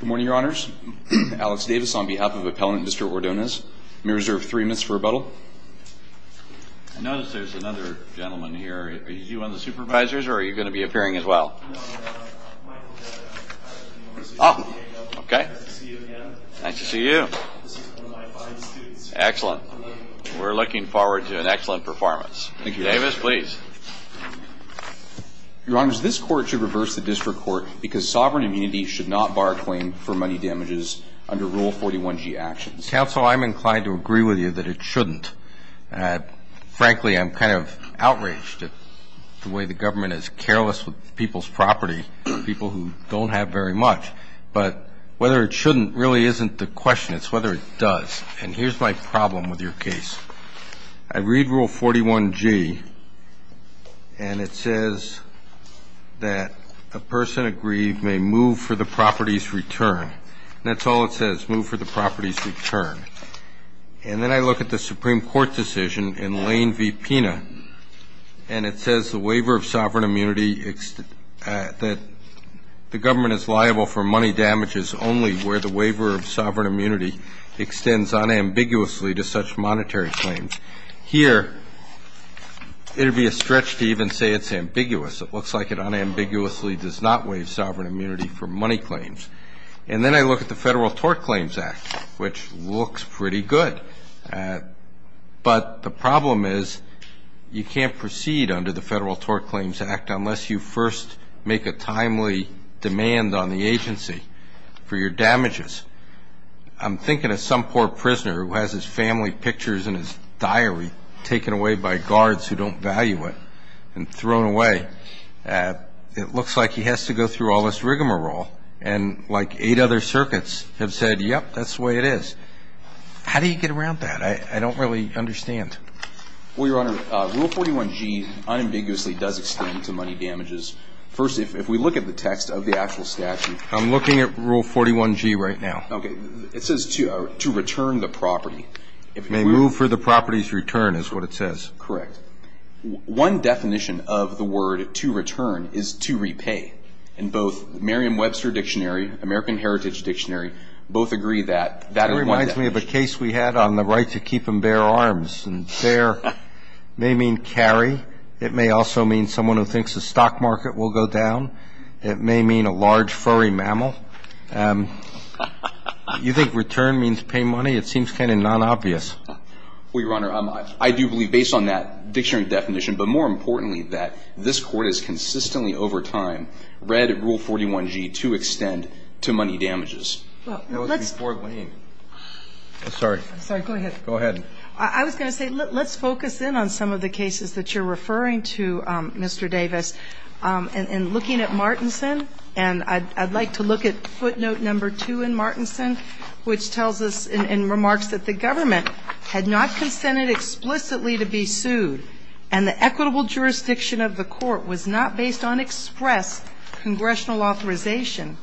Good morning, Your Honors. Alex Davis on behalf of Appellant District Ordonez. May I reserve three minutes for rebuttal? I notice there's another gentleman here. Is he one of the supervisors or are you going to be appearing as well? Oh, okay. Nice to see you. Excellent. We're looking forward to an excellent performance. Thank you. Davis, please. Your Honors, this court should reverse the district court because sovereign immunity should not bar a claim for money damages under Rule 41G actions. Counsel, I'm inclined to agree with you that it shouldn't. Frankly, I'm kind of outraged at the way the government is careless with people's property, people who don't have very much. But whether it shouldn't really isn't the question. It's whether it does. And here's my problem with your case. I read Rule 41G, and it says that a person aggrieved may move for the property's return. That's all it says, move for the property's return. And then I look at the Supreme Court decision in Lane v. Pena, and it says the waiver of sovereign immunity, that the government is liable for money damages only where the waiver of sovereign immunity extends unambiguously to such monetary claims. Here, it would be a stretch to even say it's ambiguous. It looks like it unambiguously does not waive sovereign immunity for money claims. And then I look at the Federal Tort Claims Act, which looks pretty good. But the problem is you can't proceed under the Federal Tort Claims Act unless you first make a timely demand on the agency for your damages. I'm thinking of some poor prisoner who has his family pictures in his diary taken away by guards who don't value it and thrown away. It looks like he has to go through all this rigmarole. And like eight other circuits have said, yep, that's the way it is. How do you get around that? I don't really understand. Well, Your Honor, Rule 41G unambiguously does extend to money damages. First, if we look at the text of the actual statute. I'm looking at Rule 41G right now. Okay. It says to return the property. May move for the property's return is what it says. Correct. One definition of the word to return is to repay. And both Merriam-Webster Dictionary, American Heritage Dictionary, both agree that. That reminds me of a case we had on the right to keep and bear arms. And bear may mean carry. It may also mean someone who thinks the stock market will go down. It may mean a large, furry mammal. You think return means pay money? It seems kind of non-obvious. Well, Your Honor, I do believe based on that dictionary definition, but more importantly, that this Court has consistently over time read Rule 41G to extend to money damages. Well, let's go ahead. I was going to say, let's focus in on some of the cases that you're referring to, Mr. Davis. And looking at Martinson, and I'd like to look at footnote number two in Martinson, which tells us in remarks that the government had not consented explicitly to be sued and the equitable jurisdiction of the court was not based on express congressional authorization,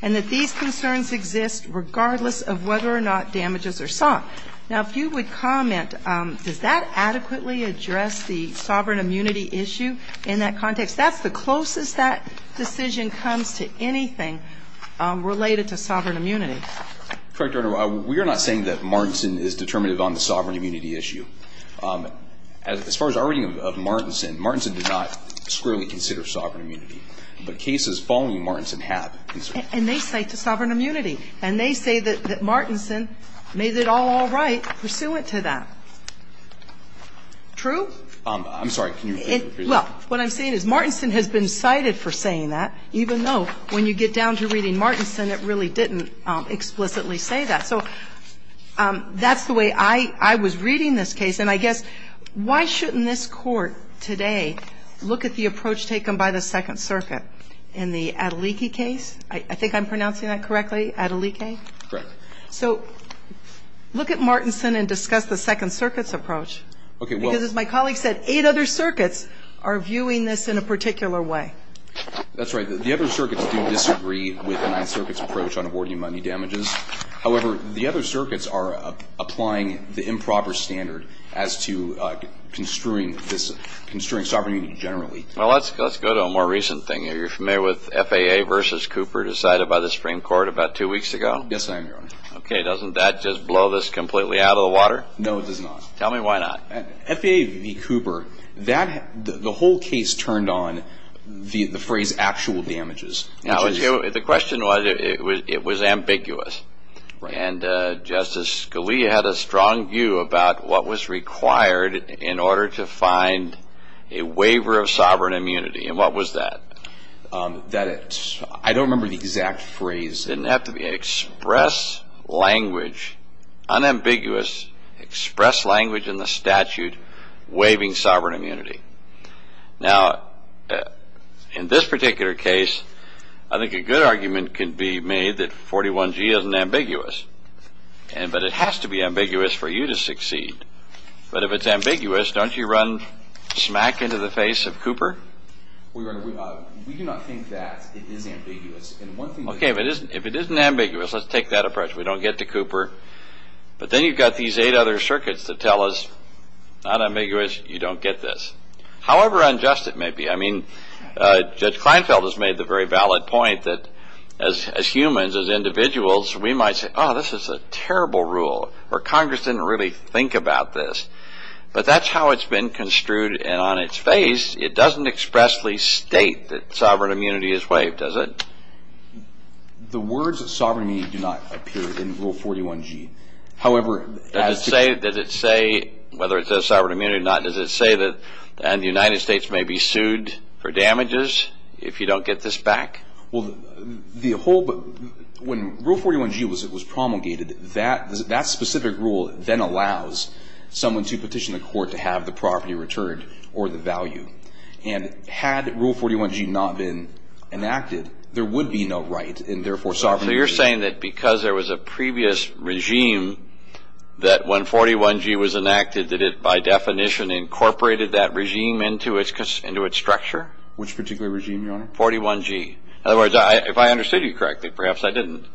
and that these concerns exist regardless of whether or not damages are sought. Now, if you would comment, does that adequately address the sovereign immunity issue in that context? That's the closest that decision comes to anything related to sovereign immunity. Correct, Your Honor. We are not saying that Martinson is determinative on the sovereign immunity issue. As far as our reading of Martinson, Martinson did not squarely consider sovereign immunity. But cases following Martinson have. And they cite the sovereign immunity. And they say that Martinson made it all all right pursuant to that. True? I'm sorry. Well, what I'm saying is Martinson has been cited for saying that, even though when you get down to reading Martinson, it really didn't explicitly say that. So that's the way I was reading this case. And I guess why shouldn't this Court today look at the approach taken by the Second Circuit in the Adeliki case? I think I'm pronouncing that correctly, Adeliki? Correct. So look at Martinson and discuss the Second Circuit's approach. Okay. Because as my colleague said, eight other circuits are viewing this in a particular way. That's right. The other circuits do disagree with the Ninth Circuit's approach on awarding money damages. However, the other circuits are applying the improper standard as to construing this, construing sovereign immunity generally. Well, let's go to a more recent thing here. You're familiar with FAA v. Cooper decided by the Supreme Court about two weeks ago? Yes, I am, Your Honor. Okay. Doesn't that just blow this completely out of the water? No, it does not. Tell me why not. FAA v. Cooper, the whole case turned on the phrase actual damages. The question was, it was ambiguous. And Justice Scalia had a strong view about what was required in order to find a waiver of sovereign immunity. And what was that? I don't remember the exact phrase. It didn't have to be. Express language, unambiguous express language in the statute waiving sovereign immunity. Now, in this particular case, I think a good argument can be made that 41G isn't ambiguous. But it has to be ambiguous for you to succeed. But if it's ambiguous, don't you run smack into the face of Cooper? We do not think that it is ambiguous. Okay. If it isn't ambiguous, let's take that approach. We don't get to Cooper. But then you've got these eight other circuits that tell us, not ambiguous, you don't get this. However unjust it may be. I mean, Judge Kleinfeld has made the very valid point that as humans, as individuals, we might say, oh, this is a terrible rule, or Congress didn't really think about this. But that's how it's been construed, and on its face, it doesn't expressly state that The words sovereign immunity do not appear in Rule 41G. However, Does it say, whether it says sovereign immunity or not, does it say that the United States may be sued for damages if you don't get this back? Well, the whole, when Rule 41G was promulgated, that specific rule then allows someone to petition the court to have the property returned or the value. And had Rule 41G not been enacted, there would be no right, and therefore, sovereign immunity. So you're saying that because there was a previous regime, that when 41G was enacted, that it, by definition, incorporated that regime into its structure? Which particular regime, Your Honor? 41G. In other words, if I understood you correctly, perhaps I didn't,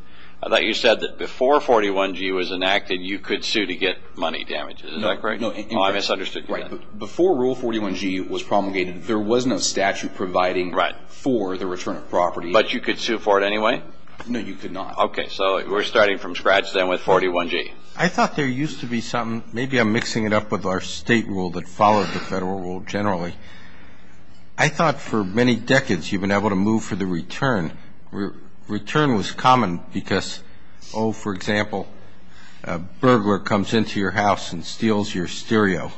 I thought you said that before 41G was enacted, you could sue to get money damages. Is that correct? No. Oh, I misunderstood. I misunderstood. Right. Before Rule 41G was promulgated, there wasn't a statute providing for the return of property. But you could sue for it anyway? No, you could not. Okay. So we're starting from scratch then with 41G. I thought there used to be something, maybe I'm mixing it up with our state rule that follows the federal rule generally. I thought for many decades, you've been able to move for the return. Return was common because, oh, for example, a burglar comes into your house and steals your stereo.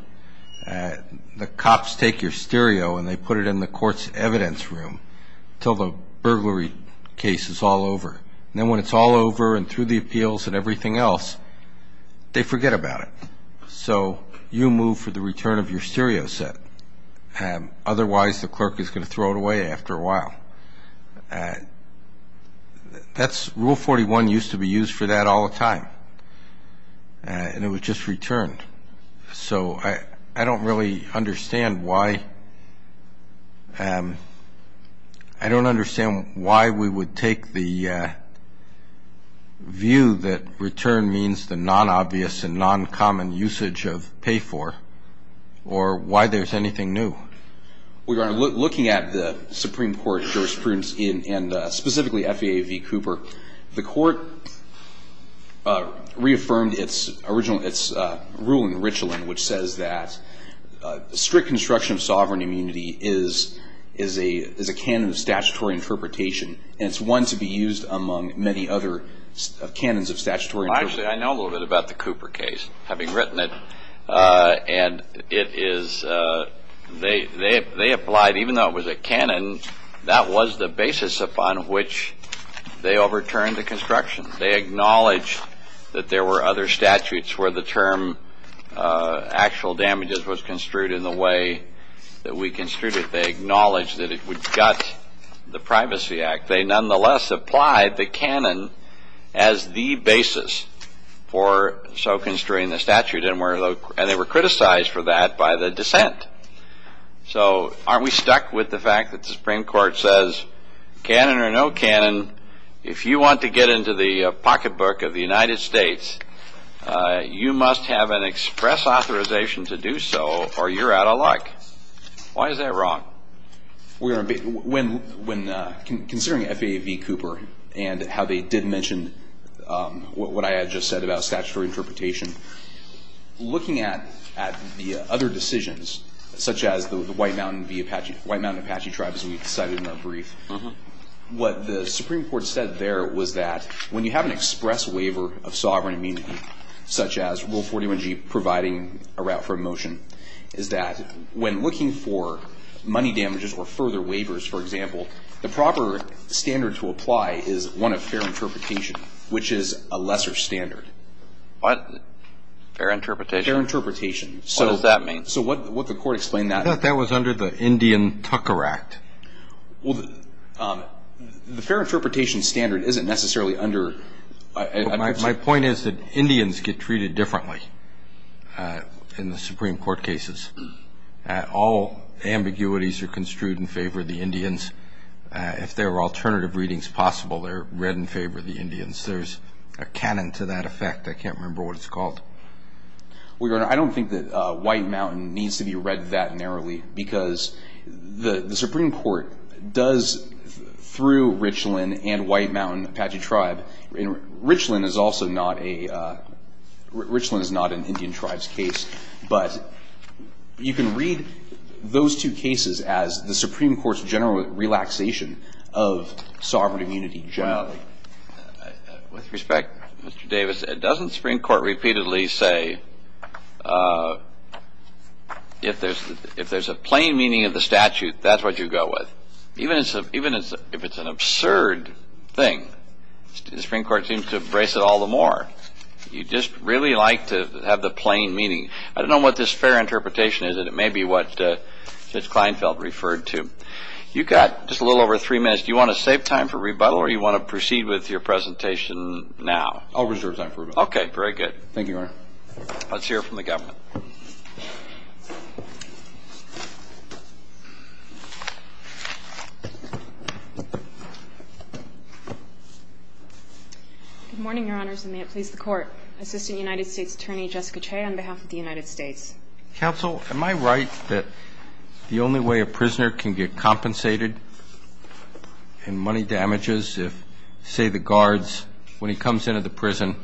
The cops take your stereo and they put it in the court's evidence room until the burglary case is all over. And then when it's all over and through the appeals and everything else, they forget about it. So you move for the return of your stereo set. Well, Rule 41 used to be used for that all the time and it was just returned. So I don't really understand why we would take the view that return means the non-obvious and non-common usage of pay for or why there's anything new. We are looking at the Supreme Court jurisprudence and specifically FEA v. Cooper. The court reaffirmed its ruling, the Richeland, which says that strict construction of sovereign immunity is a canon of statutory interpretation and it's one to be used among many other canons of statutory interpretation. Actually, I know a little bit about the Cooper case, having written it. And it is, they applied, even though it was a canon, that was the basis upon which they overturned the construction. They acknowledged that there were other statutes where the term actual damages was construed in the way that we construed it. They acknowledged that it would gut the Privacy Act. They nonetheless applied the canon as the basis for so construing the statute and they were criticized for that by the dissent. So aren't we stuck with the fact that the Supreme Court says canon or no canon, if you want to get into the pocketbook of the United States, you must have an express authorization to do so or you're out of luck. Why is that wrong? When considering FAA v. Cooper and how they did mention what I had just said about statutory interpretation, looking at the other decisions, such as the White Mountain v. Apache, White Mountain Apache tribe, as we cited in our brief, what the Supreme Court said there was that when you have an express waiver of sovereign immunity, such as Rule 41G providing a route for a motion, is that when looking for money damages or further waivers, for example, the proper standard to apply is one of fair interpretation, which is a lesser standard. Fair interpretation? Fair interpretation. What does that mean? So what the court explained that... I thought that was under the Indian Tucker Act. The fair interpretation standard isn't necessarily under... My point is that Indians get treated differently in the Supreme Court cases. All ambiguities are construed in favor of the Indians. If there are alternative readings possible, they're read in favor of the Indians. There's a canon to that effect. I can't remember what it's called. Well, Your Honor, I don't think that White Mountain needs to be read that narrowly because the Supreme Court does, through Richland and White Mountain Apache tribe, and Richland is also not a, Richland is not an Indian tribe's case, but you can read those two cases as the Supreme Court's general relaxation of sovereign immunity generally. With respect, Mr. Davis, doesn't the Supreme Court repeatedly say if there's a plain meaning of the statute, that's what you go with? Even if it's an absurd thing, the Supreme Court seems to embrace it all the more. You just really like to have the plain meaning. I don't know what this fair interpretation is, and it may be what Judge Kleinfeld referred to. You've got just a little over three minutes. Do you want to save time for rebuttal, or do you want to proceed with your presentation now? I'll reserve time for rebuttal. Okay, very good. Thank you, Your Honor. Let's hear from the government. Good morning, Your Honors, and may it please the Court. Assistant United States Attorney, Jessica Che, on behalf of the United States. Counsel, am I right that the only way a prisoner can get compensated in money damages, if, say, the guards, when he comes into the prison,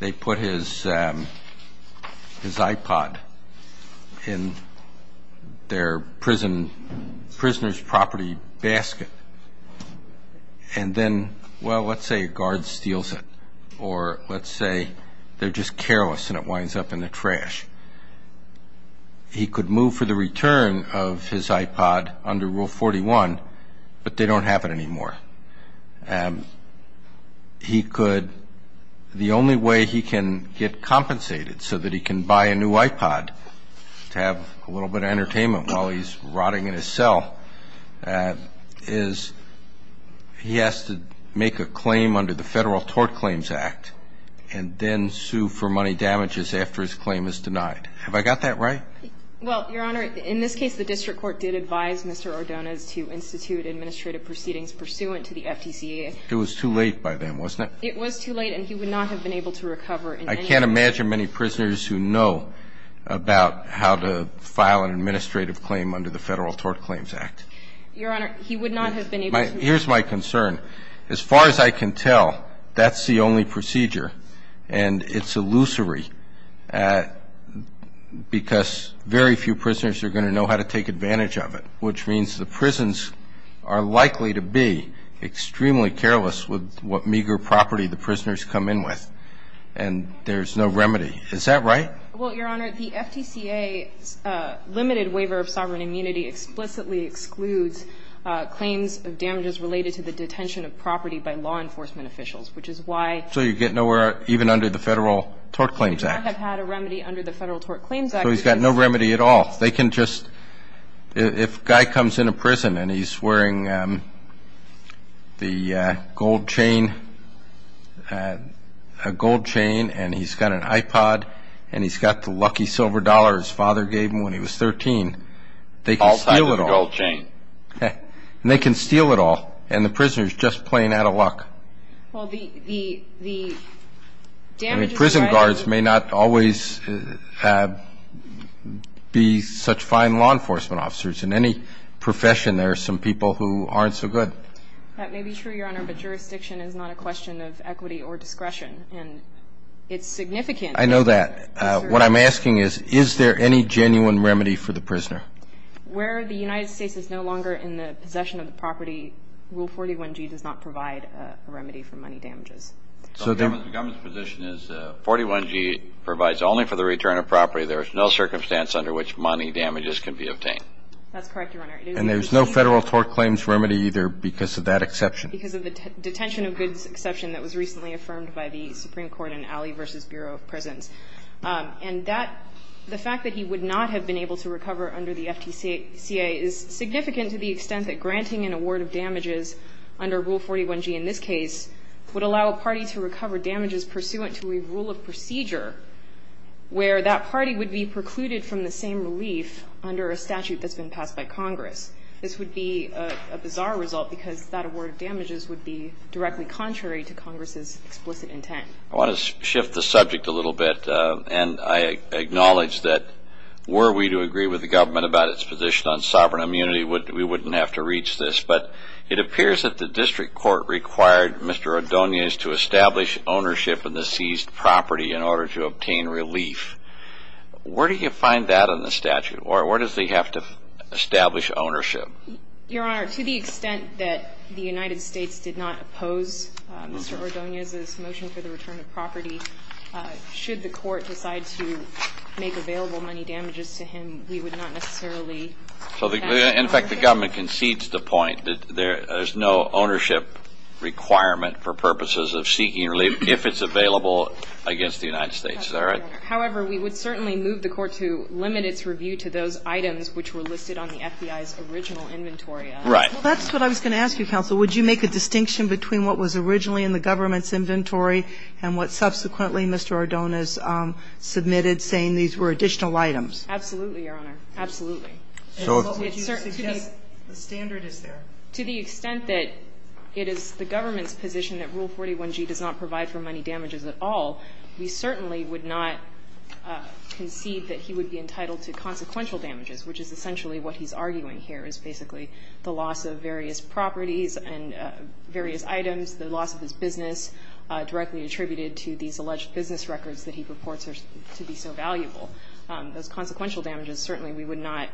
they put his iPod in their pocket, the prisoner's property basket, and then, well, let's say a guard steals it, or let's say they're just careless and it winds up in the trash. He could move for the return of his iPod under Rule 41, but they don't have it anymore. He could, the only way he can get compensated so that he can buy a new iPod to have a little bit of entertainment while he's rotting in his cell is he has to make a claim under the Federal Tort Claims Act and then sue for money damages after his claim is denied. Have I got that right? Well, Your Honor, in this case, the district court did advise Mr. Ordonez to institute administrative proceedings pursuant to the FDCA. It was too late by then, wasn't it? It was too late, and he would not have been able to recover in any way. I can't imagine many prisoners who know about how to file an administrative claim under the Federal Tort Claims Act. Your Honor, he would not have been able to. Here's my concern. As far as I can tell, that's the only procedure, and it's illusory, because very few prisoners are going to know how to take advantage of it, which means the prisons are likely to be extremely careless with what meager property the prisoners come in with, and there's no remedy. Is that right? Well, Your Honor, the FDCA's limited waiver of sovereign immunity explicitly excludes claims of damages related to the detention of property by law enforcement officials, which is why he would not have had a remedy under the Federal Tort Claims Act. So he's got no remedy at all. If a guy comes into prison and he's wearing the gold chain, a gold chain, and he's got an iPod, and he's got the lucky silver dollar his father gave him when he was 13, they can steal it all. All type of gold chain. And they can steal it all, and the prisoner's just plain out of luck. Well, the damages provided by the FDCA's limited waiver of sovereign immunity I mean, prison guards may not always be such fine law enforcement officers. In any profession, there are some people who aren't so good. That may be true, Your Honor, but jurisdiction is not a question of equity or discretion, and it's significant. I know that. What I'm asking is, is there any genuine remedy for the prisoner? Where the United States is no longer in the possession of the property, Rule 41G does not provide a remedy for money damages. So the government's position is 41G provides only for the return of property. There is no circumstance under which money damages can be obtained. That's correct, Your Honor. And there's no Federal Tort Claims remedy either because of that exception? Because of the detention of goods exception that was recently affirmed by the Supreme Court in Alley v. Bureau of Prisons. And that the fact that he would not have been able to recover under the FDCA is significant to the extent that granting an award of damages under Rule 41G in this case would allow a party to recover damages pursuant to a rule of procedure where that party would be precluded from the same relief under a statute that's been passed by Congress. This would be a bizarre result because that award of damages would be directly contrary to Congress's explicit intent. I want to shift the subject a little bit, and I acknowledge that were we to agree with the government about its position on sovereign immunity, we wouldn't have to reach this. But it appears that the district court required Mr. Ordonez to establish ownership in the seized property in order to obtain relief. Where do you find that in the statute? Or where does he have to establish ownership? Your Honor, to the extent that the United States did not oppose Mr. Ordonez's motion for the return of property, should the court decide to make available money damages to him, we would not necessarily. In fact, the government concedes the point that there is no ownership requirement for purposes of seeking relief if it's available against the United States. Is that right? However, we would certainly move the court to limit its review to those items which were listed on the FBI's original inventory. Right. Well, that's what I was going to ask you, Counsel. Would you make a distinction between what was originally in the government's inventory and what subsequently Mr. Ordonez submitted, saying these were additional items? Absolutely, Your Honor. Absolutely. And what would you suggest the standard is there? To the extent that it is the government's position that Rule 41g does not provide for money damages at all, we certainly would not concede that he would be entitled to consequential damages, which is essentially what he's arguing here, is basically the loss of various properties and various items, the loss of his business directly attributed to these alleged business records that he purports are to be so valuable. Those consequential damages, certainly we would not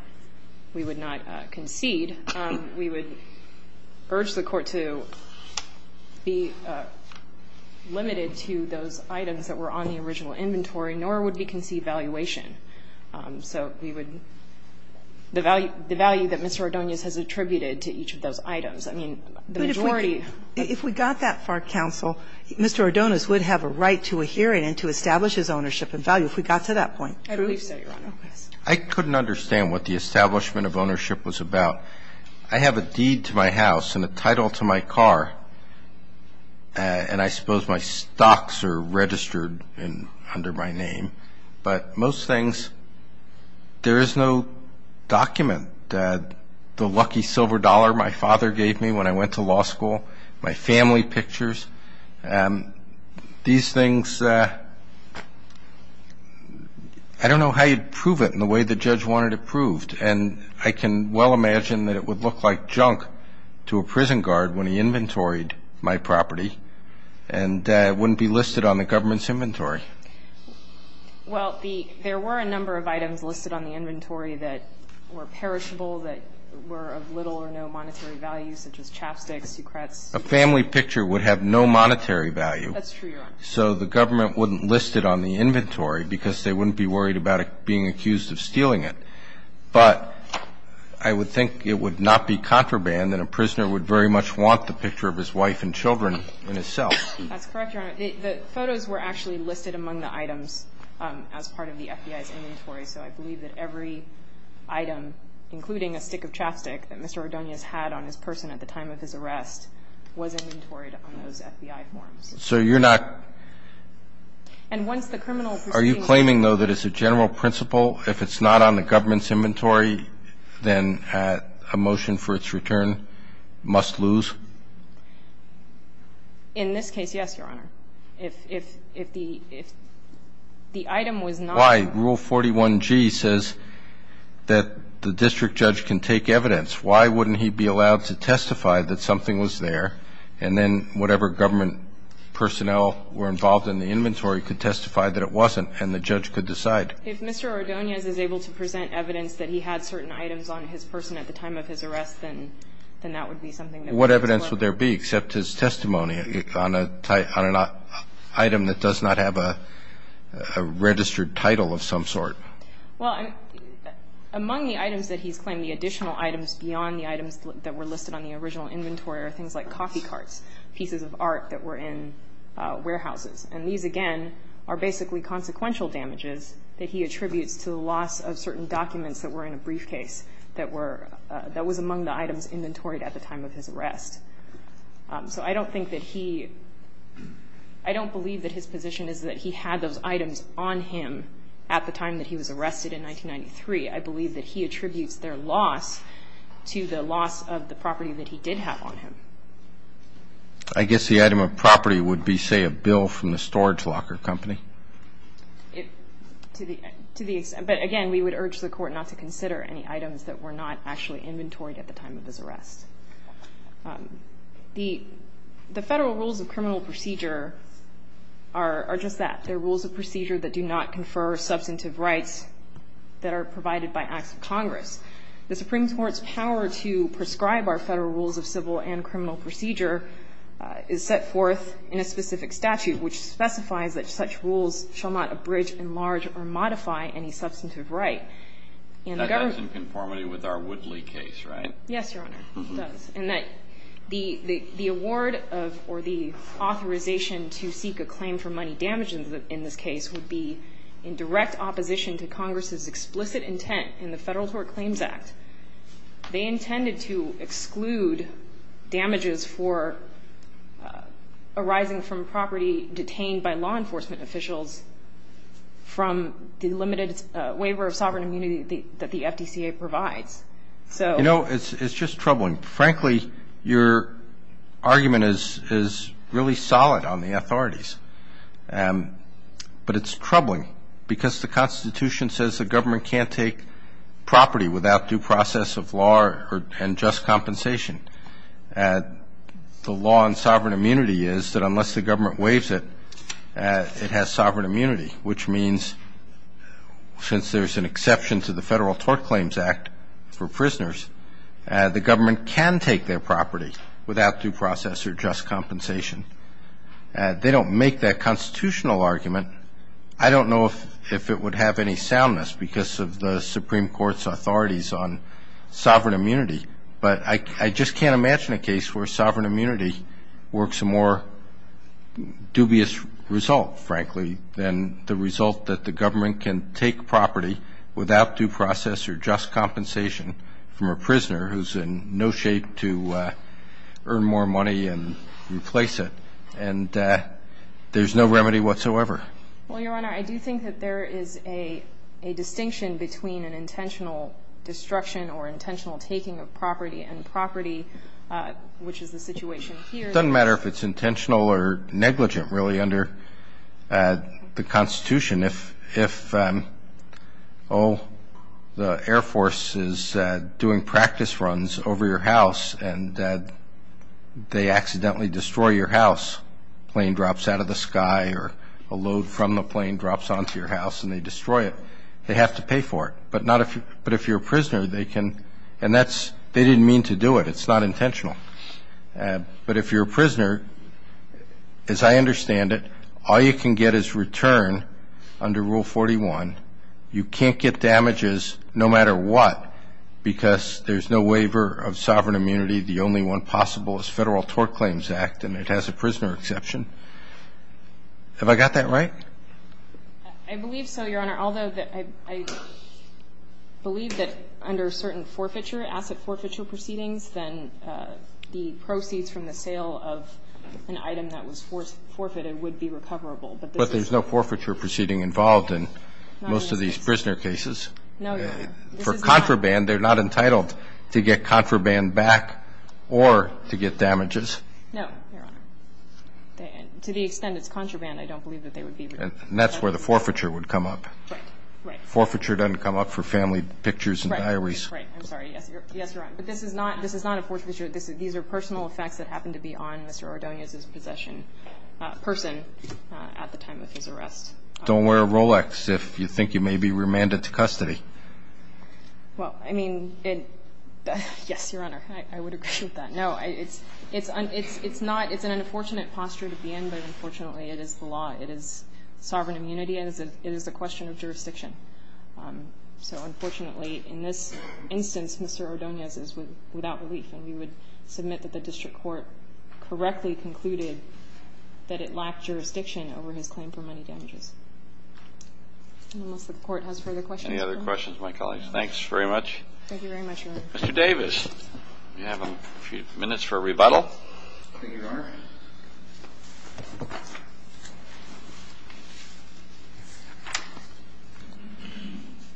concede. We would urge the court to be limited to those items that were on the original inventory, nor would we concede valuation. So we would the value that Mr. Ordonez has attributed to each of those items. I mean, the majority. If we got that far, counsel, Mr. Ordonez would have a right to a hearing and to establish his ownership and value if we got to that point. I believe so, Your Honor. I couldn't understand what the establishment of ownership was about. I have a deed to my house and a title to my car, and I suppose my stocks are registered under my name. But most things, there is no document that the lucky silver dollar my father gave me when I went to law school, my family pictures. These things, I don't know how you'd prove it in the way the judge wanted it proved. And I can well imagine that it would look like junk to a prison guard when he inventoried my property and wouldn't be listed on the government's inventory. Well, there were a number of items listed on the inventory that were perishable, that were of little or no monetary value, such as chapsticks, soucrettes. A family picture would have no monetary value. That's true, Your Honor. So the government wouldn't list it on the inventory because they wouldn't be worried about being accused of stealing it. But I would think it would not be contraband, and a prisoner would very much want the picture of his wife and children in his cell. That's correct, Your Honor. The photos were actually listed among the items as part of the FBI's inventory. So I believe that every item, including a stick of chapstick that Mr. Ordonez had on his person at the time of his arrest, was inventoried on those FBI forms. So you're not – And once the criminal proceeding – Are you claiming, though, that it's a general principle if it's not on the government's inventory, then a motion for its return must lose? In this case, yes, Your Honor. If the item was not – Why? Rule 41G says that the district judge can take evidence. Why wouldn't he be allowed to testify that something was there, and then whatever government personnel were involved in the inventory could testify that it wasn't and the judge could decide? If Mr. Ordonez is able to present evidence that he had certain items on his person at the time of his arrest, then that would be something that we would support. What evidence would there be except his testimony on an item that does not have a registered title of some sort? Well, among the items that he's claimed, the additional items beyond the items that were listed on the original inventory are things like coffee carts, pieces of art that were in warehouses. And these, again, are basically consequential damages that he attributes to the loss of certain documents that were in a briefcase that were – that was among the items inventoried at the time of his arrest. So I don't think that he – I don't believe that his position is that he had those items on him at the time that he was arrested in 1993. I believe that he attributes their loss to the loss of the property that he did have on him. I guess the item of property would be, say, a bill from the storage locker company? To the extent – but again, we would urge the Court not to consider any items that were not actually inventoried at the time of his arrest. The Federal Rules of Criminal Procedure are just that. They're rules of procedure that do not confer substantive rights that are provided by acts of Congress. The Supreme Court's power to prescribe our Federal Rules of Civil and Criminal Procedure is set forth in a specific statute which specifies that such rules shall not abridge, enlarge, or modify any substantive right. And the government – That's in conformity with our Woodley case, right? Yes, Your Honor. It does. And that the award of – or the authorization to seek a claim for money damages in this case would be in direct opposition to Congress's explicit intent in the Federal Tort Claims Act. They intended to exclude damages for arising from property detained by law enforcement officials from the limited waiver of sovereign immunity that the FDCA provides. So – You know, it's just troubling. Frankly, your argument is really solid on the authorities. But it's troubling because the Constitution says the government can't take property without due process of law and just compensation. The law on sovereign immunity is that unless the government waives it, it has sovereign immunity, which means since there's an exception to the Federal Tort Claims Act for without due process or just compensation. They don't make that constitutional argument. I don't know if it would have any soundness because of the Supreme Court's authorities on sovereign immunity. But I just can't imagine a case where sovereign immunity works a more dubious result, frankly, than the result that the government can take property without due process or earn more money and replace it. And there's no remedy whatsoever. Well, Your Honor, I do think that there is a distinction between an intentional destruction or intentional taking of property and property, which is the situation here. It doesn't matter if it's intentional or negligent, really, under the Constitution. If, oh, the Air Force is doing practice runs over your house and they accidentally destroy your house, a plane drops out of the sky or a load from the plane drops onto your house and they destroy it, they have to pay for it. But if you're a prisoner, they can – and that's – they didn't mean to do it. It's not intentional. But if you're a prisoner, as I understand it, all you can get is return under Rule 41. You can't get damages no matter what because there's no waiver of sovereign immunity. The only one possible is Federal Tort Claims Act, and it has a prisoner exception. Have I got that right? I believe so, Your Honor. Your Honor, although I believe that under certain forfeiture, asset forfeiture proceedings, then the proceeds from the sale of an item that was forfeited would be recoverable, but this is not. But there's no forfeiture proceeding involved in most of these prisoner cases. No, Your Honor. For contraband, they're not entitled to get contraband back or to get damages. No, Your Honor. To the extent it's contraband, I don't believe that they would be recoverable. And that's where the forfeiture would come up. Right, right. Forfeiture doesn't come up for family pictures and diaries. Right, right. I'm sorry. Yes, Your Honor. But this is not a forfeiture. These are personal effects that happen to be on Mr. Ordonez's possession person at the time of his arrest. Don't wear a Rolex if you think you may be remanded to custody. Well, I mean, yes, Your Honor, I would agree with that. No, it's an unfortunate posture to be in, but unfortunately it is the law. It is sovereign immunity. It is a question of jurisdiction. So, unfortunately, in this instance, Mr. Ordonez is without relief, and we would submit that the district court correctly concluded that it lacked jurisdiction over his claim for money damages. Unless the court has further questions. Any other questions, my colleagues? No. Thanks very much. Thank you very much, Your Honor. Mr. Davis, you have a few minutes for a rebuttal. Thank you, Your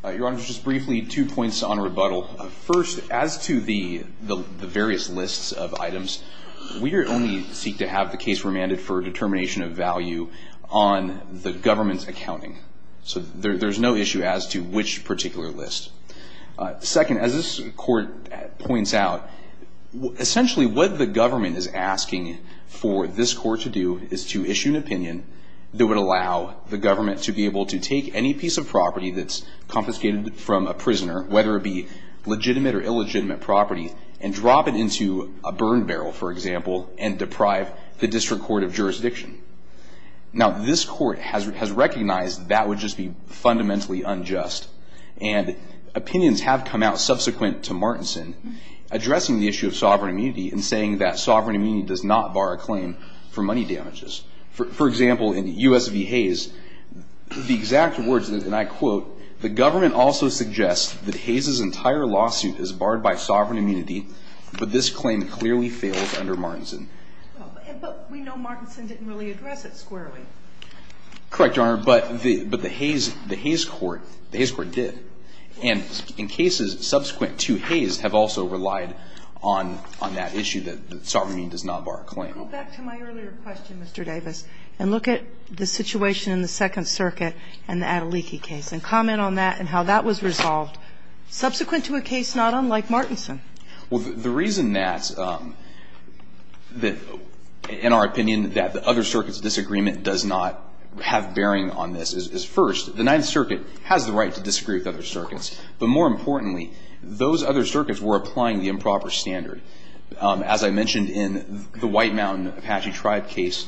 Honor. Your Honor, just briefly, two points on rebuttal. First, as to the various lists of items, we only seek to have the case remanded for a determination of value on the government's accounting. So there's no issue as to which particular list. Second, as this court points out, essentially what the government is asking for this court to do is to issue an amendment that would allow the government to be able to take any piece of property that's confiscated from a prisoner, whether it be legitimate or illegitimate property, and drop it into a burn barrel, for example, and deprive the district court of jurisdiction. Now, this court has recognized that would just be fundamentally unjust, and opinions have come out subsequent to Martinson addressing the issue of sovereign immunity and saying that sovereign immunity does not bar a claim for money damages. For example, in U.S. v. Hayes, the exact words, and I quote, the government also suggests that Hayes' entire lawsuit is barred by sovereign immunity, but this claim clearly fails under Martinson. But we know Martinson didn't really address it squarely. Correct, Your Honor, but the Hayes court did. And in cases subsequent to Hayes have also relied on that issue, that sovereign immunity does not bar a claim. Go back to my earlier question, Mr. Davis, and look at the situation in the Second Circuit and the Adeliki case, and comment on that and how that was resolved subsequent to a case not unlike Martinson. Well, the reason that, in our opinion, that the other circuits' disagreement does not have bearing on this is, first, the Ninth Circuit has the right to disagree with other circuits. But more importantly, those other circuits were applying the improper standard. As I mentioned in the White Mountain Apache Tribe case,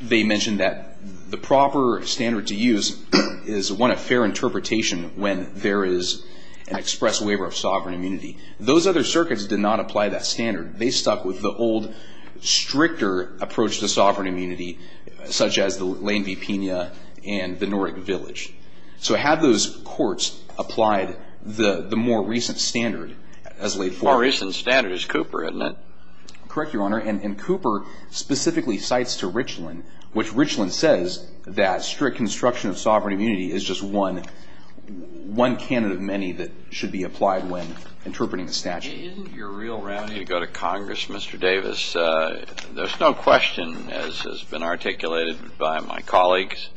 they mentioned that the proper standard to use is, one, a fair interpretation when there is an express waiver of sovereign immunity. Those other circuits did not apply that standard. They stuck with the old, stricter approach to sovereign immunity, such as the Lane v. Pena and the Norrick Village. So had those courts applied the more recent standard as laid forward? The more recent standard is Cooper, isn't it? Correct, Your Honor. And Cooper specifically cites to Richland, which Richland says that strict construction of sovereign immunity is just one candidate of many that should be applied when interpreting the statute. Isn't your real remedy to go to Congress, Mr. Davis? There's no question, as has been articulated by my colleagues,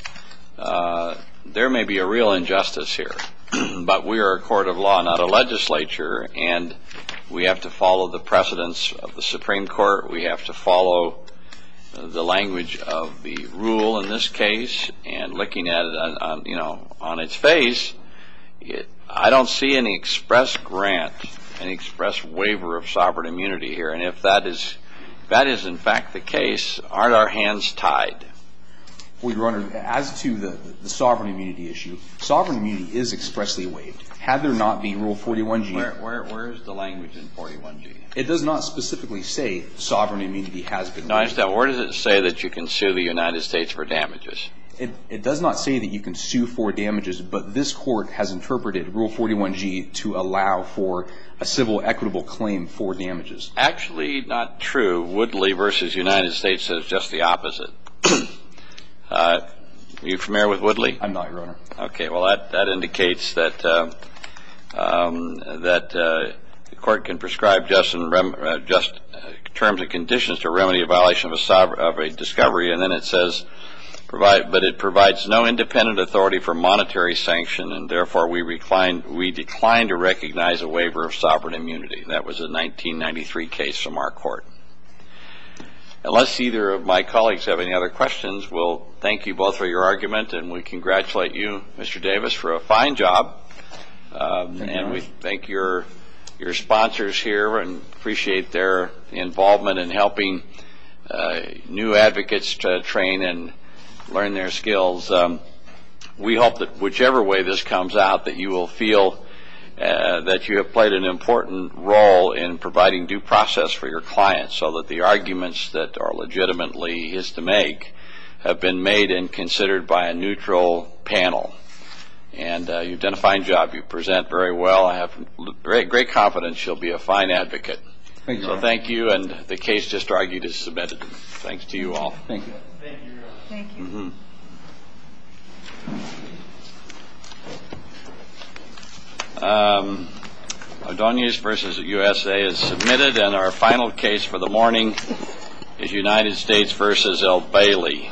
there may be a real problem. We have to follow the legislature and we have to follow the precedence of the Supreme Court. We have to follow the language of the rule in this case. And looking at it on its face, I don't see any express grant, any express waiver of sovereign immunity here. And if that is in fact the case, aren't our hands tied? Well, Your Honor, as to the sovereign immunity issue, sovereign immunity is expressly waived. Had there not been Rule 41G. Where is the language in 41G? It does not specifically say sovereign immunity has been waived. No, I just don't. Where does it say that you can sue the United States for damages? It does not say that you can sue for damages, but this Court has interpreted Rule 41G to allow for a civil equitable claim for damages. Actually, not true. Woodley v. United States says just the opposite. Are you familiar with Woodley? I'm not, Your Honor. Okay, well, that indicates that the Court can prescribe just terms and conditions to remedy a violation of a discovery, and then it says, but it provides no independent authority for monetary sanction, and therefore we decline to recognize a waiver of sovereign immunity. That was a 1993 case from our Court. Unless either of my colleagues have any other questions, we'll thank you both for your time, Mr. Davis, for a fine job, and we thank your sponsors here and appreciate their involvement in helping new advocates to train and learn their skills. We hope that whichever way this comes out, that you will feel that you have played an important role in providing due process for your clients so that the arguments that are And you've done a fine job. You present very well. I have great confidence you'll be a fine advocate. Thank you, Your Honor. So thank you, and the case just argued is submitted. Thanks to you all. Thank you. Thank you, Your Honor. Thank you. Adonis v. USA is submitted, and our final case for the morning is United States v. L. Bailey. Thank you, Your Honor.